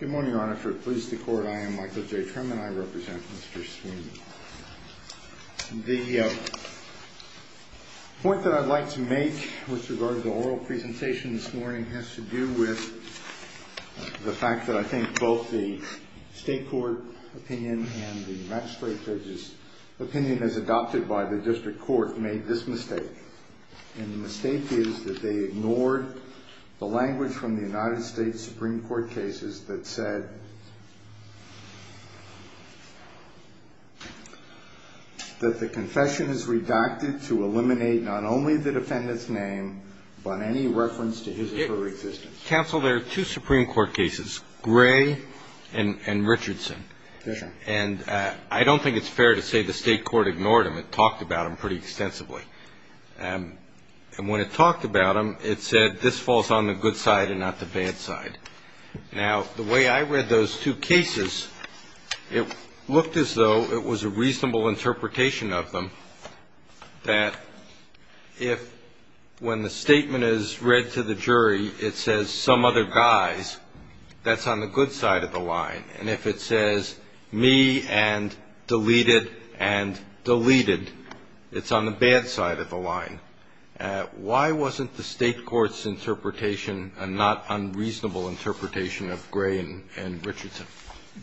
Good morning, Your Honor. For the Police, the Court, I am Michael J. Trim and I represent Mr. Sweeney. The point that I'd like to make with regard to the oral presentation this morning has to do with the fact that I think both the state court opinion and the magistrate judge's opinion as adopted by the district court made this mistake. And the mistake is that they ignored the language from the United States Supreme Court cases that said that the confession is redacted to eliminate not only the defendant's name but any reference to his or her existence. Counsel, there are two Supreme Court cases, Gray and Richardson. And I don't think it's fair to say the state court ignored them. It talked about them pretty extensively. And when it talked about them, it said this falls on the good side and not the bad side. Now, the way I read those two cases, it looked as though it was a reasonable interpretation of them that if when the statement is read to the jury, it says some other guys, that's on the good side of the line. And if it says me and deleted and deleted, it's on the bad side of the line. Why wasn't the state court's interpretation a not unreasonable interpretation of Gray and Richardson?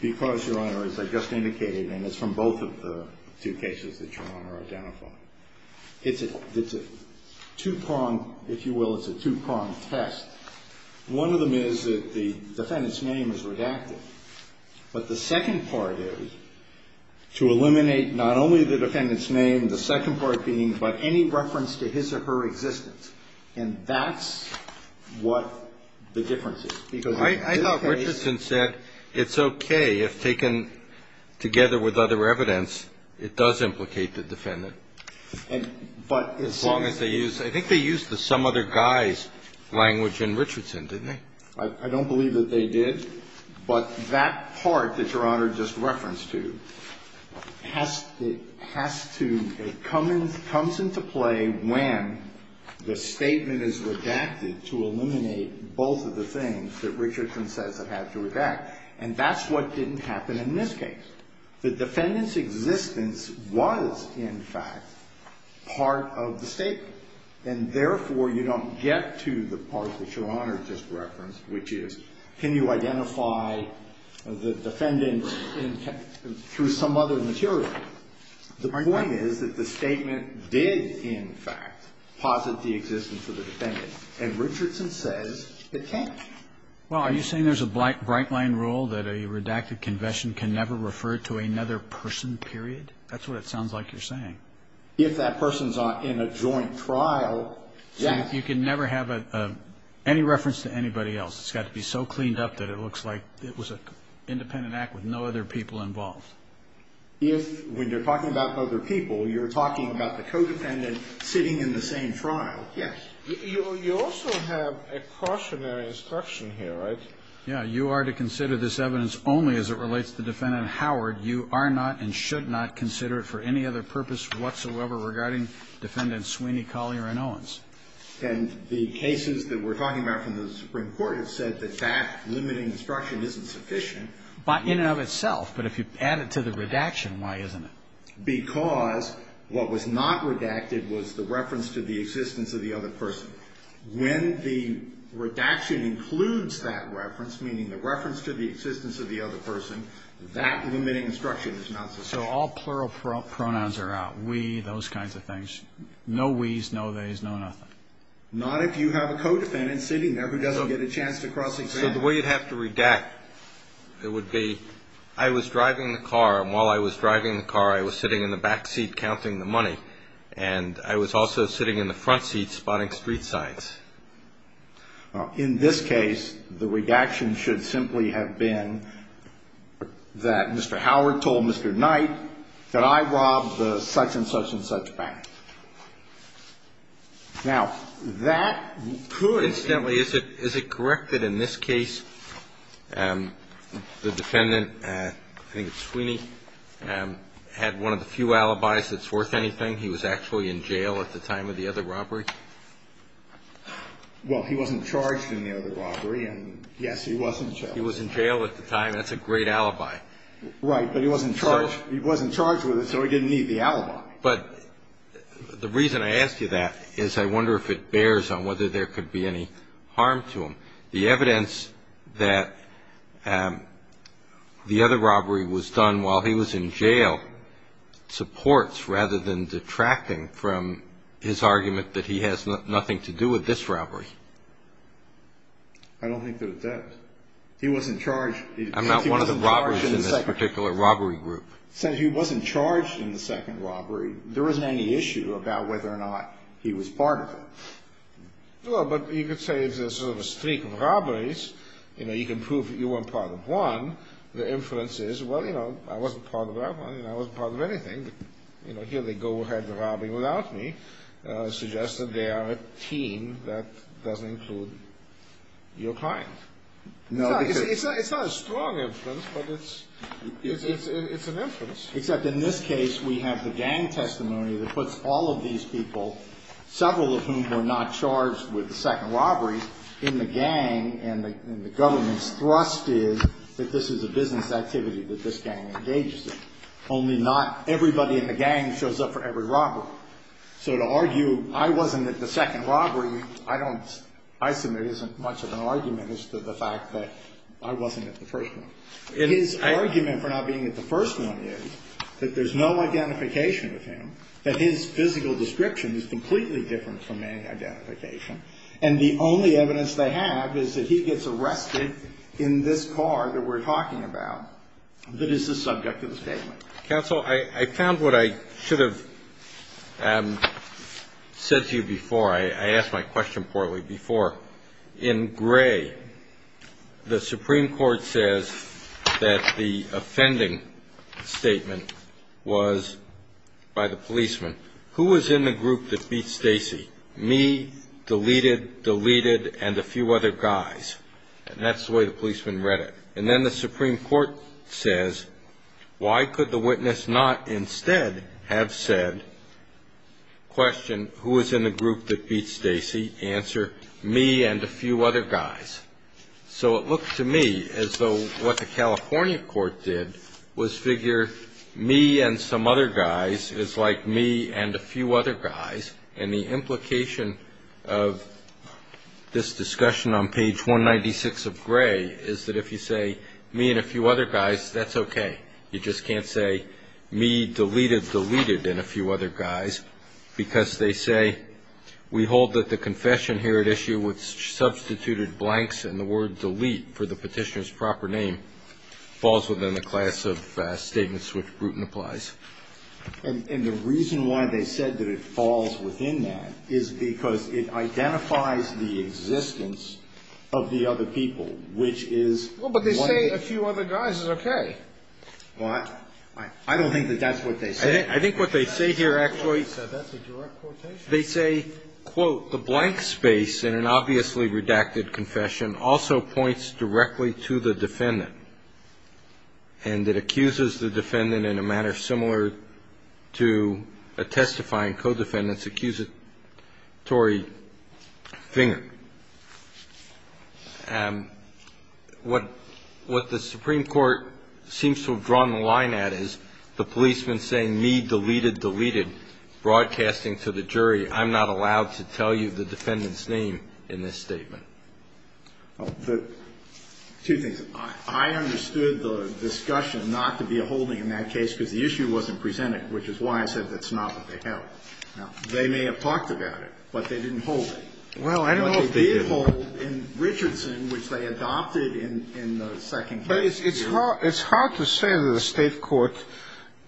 Because, Your Honor, as I just indicated, and it's from both of the two cases that Your Honor identified, it's a two-pronged, if you will, it's a two-pronged test. One of them is that the defendant's name is redacted. But the second part is to eliminate not only the defendant's name, the second part being, but any reference to his or her existence. And that's what the difference is. Because in this case ---- I thought Richardson said it's okay if taken together with other evidence, it does implicate the defendant. But as long as they use ---- I think they used the some other guys language in Richardson, didn't they? I don't believe that they did. But that part that Your Honor just referenced to has to ---- it comes into play when the statement is redacted to eliminate both of the things that Richardson says it had to redact. And that's what didn't happen in this case. The defendant's existence was, in fact, part of the statement. And therefore, you don't get to the part that Your Honor just referenced, which is, can you identify the defendant through some other material? The point is that the statement did, in fact, posit the existence of the defendant. And Richardson says it can't. Well, are you saying there's a bright line rule that a redacted confession can never refer to another person, period? That's what it sounds like you're saying. If that person's in a joint trial, yes. So you can never have any reference to anybody else. It's got to be so cleaned up that it looks like it was an independent act with no other people involved. If, when you're talking about other people, you're talking about the co-defendant sitting in the same trial, yes. You also have a cautionary instruction here, right? Yeah. You are to consider this evidence only as it relates to Defendant Howard. You are not and should not consider it for any other purpose whatsoever regarding Defendants Sweeney, Collier, and Owens. And the cases that we're talking about from the Supreme Court have said that that limiting instruction isn't sufficient. In and of itself. But if you add it to the redaction, why isn't it? Because what was not redacted was the reference to the existence of the other person. When the redaction includes that reference, meaning the reference to the existence of the other person, that limiting instruction is not sufficient. So all plural pronouns are out. We, those kinds of things. No we's, no they's, no nothing. Not if you have a co-defendant sitting there who doesn't get a chance to cross examine. So the way you'd have to redact, it would be, I was driving the car, and while I was driving the car, I was sitting in the back seat counting the money. And I was also sitting in the front seat spotting street signs. In this case, the redaction should simply have been that Mr. Howard told Mr. Knight that I robbed the such and such and such bank. Now, that could. Incidentally, is it, is it correct that in this case, the defendant, I think it's Sweeney, had one of the few alibis that's worth anything? He was actually in jail at the time of the other robbery? Well, he wasn't charged in the other robbery, and yes, he was in jail. He was in jail at the time. That's a great alibi. Right. But he wasn't charged, he wasn't charged with it, so he didn't need the alibi. But the reason I asked you that is I wonder if it bears on whether there could be any harm to him. The evidence that the other robbery was done while he was in jail supports rather than detracting from his argument that he has nothing to do with this robbery. I don't think that it does. He wasn't charged. I'm not one of the robbers in this particular robbery group. Since he wasn't charged in the second robbery, there isn't any issue about whether or not he was part of it. Well, but you could say it's a sort of a streak of robberies. You know, you can prove that you weren't part of one. The inference is, well, you know, I wasn't part of that one, and I wasn't part of anything. You know, here they go ahead with robbing without me. Suggests that they are a team that doesn't include your client. It's not a strong inference, but it's an inference. Except in this case we have the gang testimony that puts all of these people, several of whom were not charged with the second robbery, in the gang, and the government's thrust is that this is a business activity that this gang engages in. Only not everybody in the gang shows up for every robbery. So to argue I wasn't at the second robbery, I don't, I submit isn't much of an argument as to the fact that I wasn't at the first one. His argument for not being at the first one is that there's no identification with him, that his physical description is completely different from any identification, and the only evidence they have is that he gets arrested in this car that we're talking about that is the subject of the statement. Counsel, I found what I should have said to you before. I asked my question poorly before. In Gray, the Supreme Court says that the offending statement was by the policeman. Who was in the group that beat Stacy? Me, deleted, deleted, and a few other guys. And that's the way the policeman read it. And then the Supreme Court says, why could the witness not instead have said, question, who was in the group that beat Stacy? Answer, me and a few other guys. So it looked to me as though what the California court did was figure me and some other guys is like me and a few other guys, and the implication of this discussion on page 196 of Gray is that if you say me and a few other guys, that's okay. You just can't say me, deleted, deleted, and a few other guys, because they say we hold that the confession here at issue with substituted blanks and the word delete for the petitioner's proper name falls within the class of statements which Bruton applies. And the reason why they said that it falls within that is because it identifies the existence of the other people, which is. Well, but they say a few other guys is okay. Well, I don't think that that's what they say. I think what they say here actually. That's a direct quotation. They say, quote, the blank space in an obviously redacted confession also points directly to the defendant and that accuses the defendant in a manner similar to a testifying co-defendant's accusatory finger. And what the Supreme Court seems to have drawn the line at is the policeman saying me, deleted, deleted, broadcasting to the jury, I'm not allowed to tell you the defendant's name in this statement. The two things. I understood the discussion not to be a holding in that case because the issue wasn't presented, which is why I said that's not what they held. Now, they may have talked about it, but they didn't hold it. Well, I don't know if they did. But they did hold in Richardson, which they adopted in the second case. But it's hard to say that a State court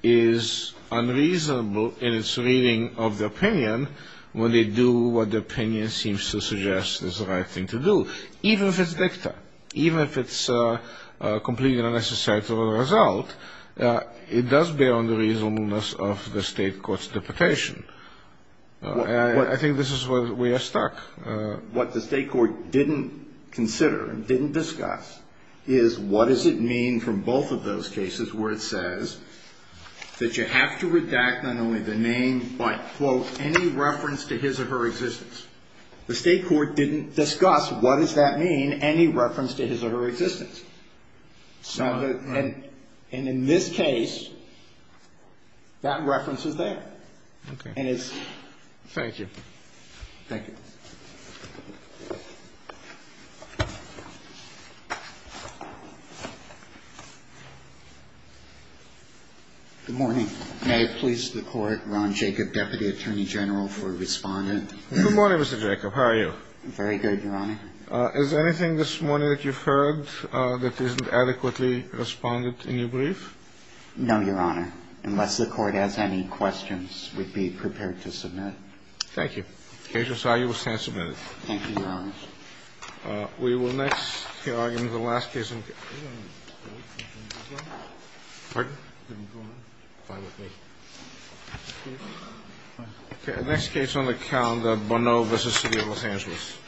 is unreasonable in its reading of the opinion when they do what the opinion seems to suggest is the right thing to do, even if it's dicta, even if it's a completely unnecessary result. It does bear on the reasonableness of the State court's deputation. I think this is where we are stuck. What the State court didn't consider and didn't discuss is what does it mean from both of those cases where it says that you have to redact not only the name but, quote, any reference to his or her existence. The State court didn't discuss what does that mean, any reference to his or her existence. And in this case, that reference is there. Okay. Thank you. Thank you. Good morning. May it please the Court, Ron Jacob, Deputy Attorney General for Respondent. Good morning, Mr. Jacob. How are you? Very good, Your Honor. Is there anything this morning that you've heard that isn't adequately responded in your brief? No, Your Honor, unless the Court has any questions, we'd be prepared to submit. Thank you. The case is now in the stand submitted. Thank you, Your Honor. We will next hear argument in the last case. Pardon? Fine with me. Okay. The next case on the calendar, Bonneau v. City of Los Angeles.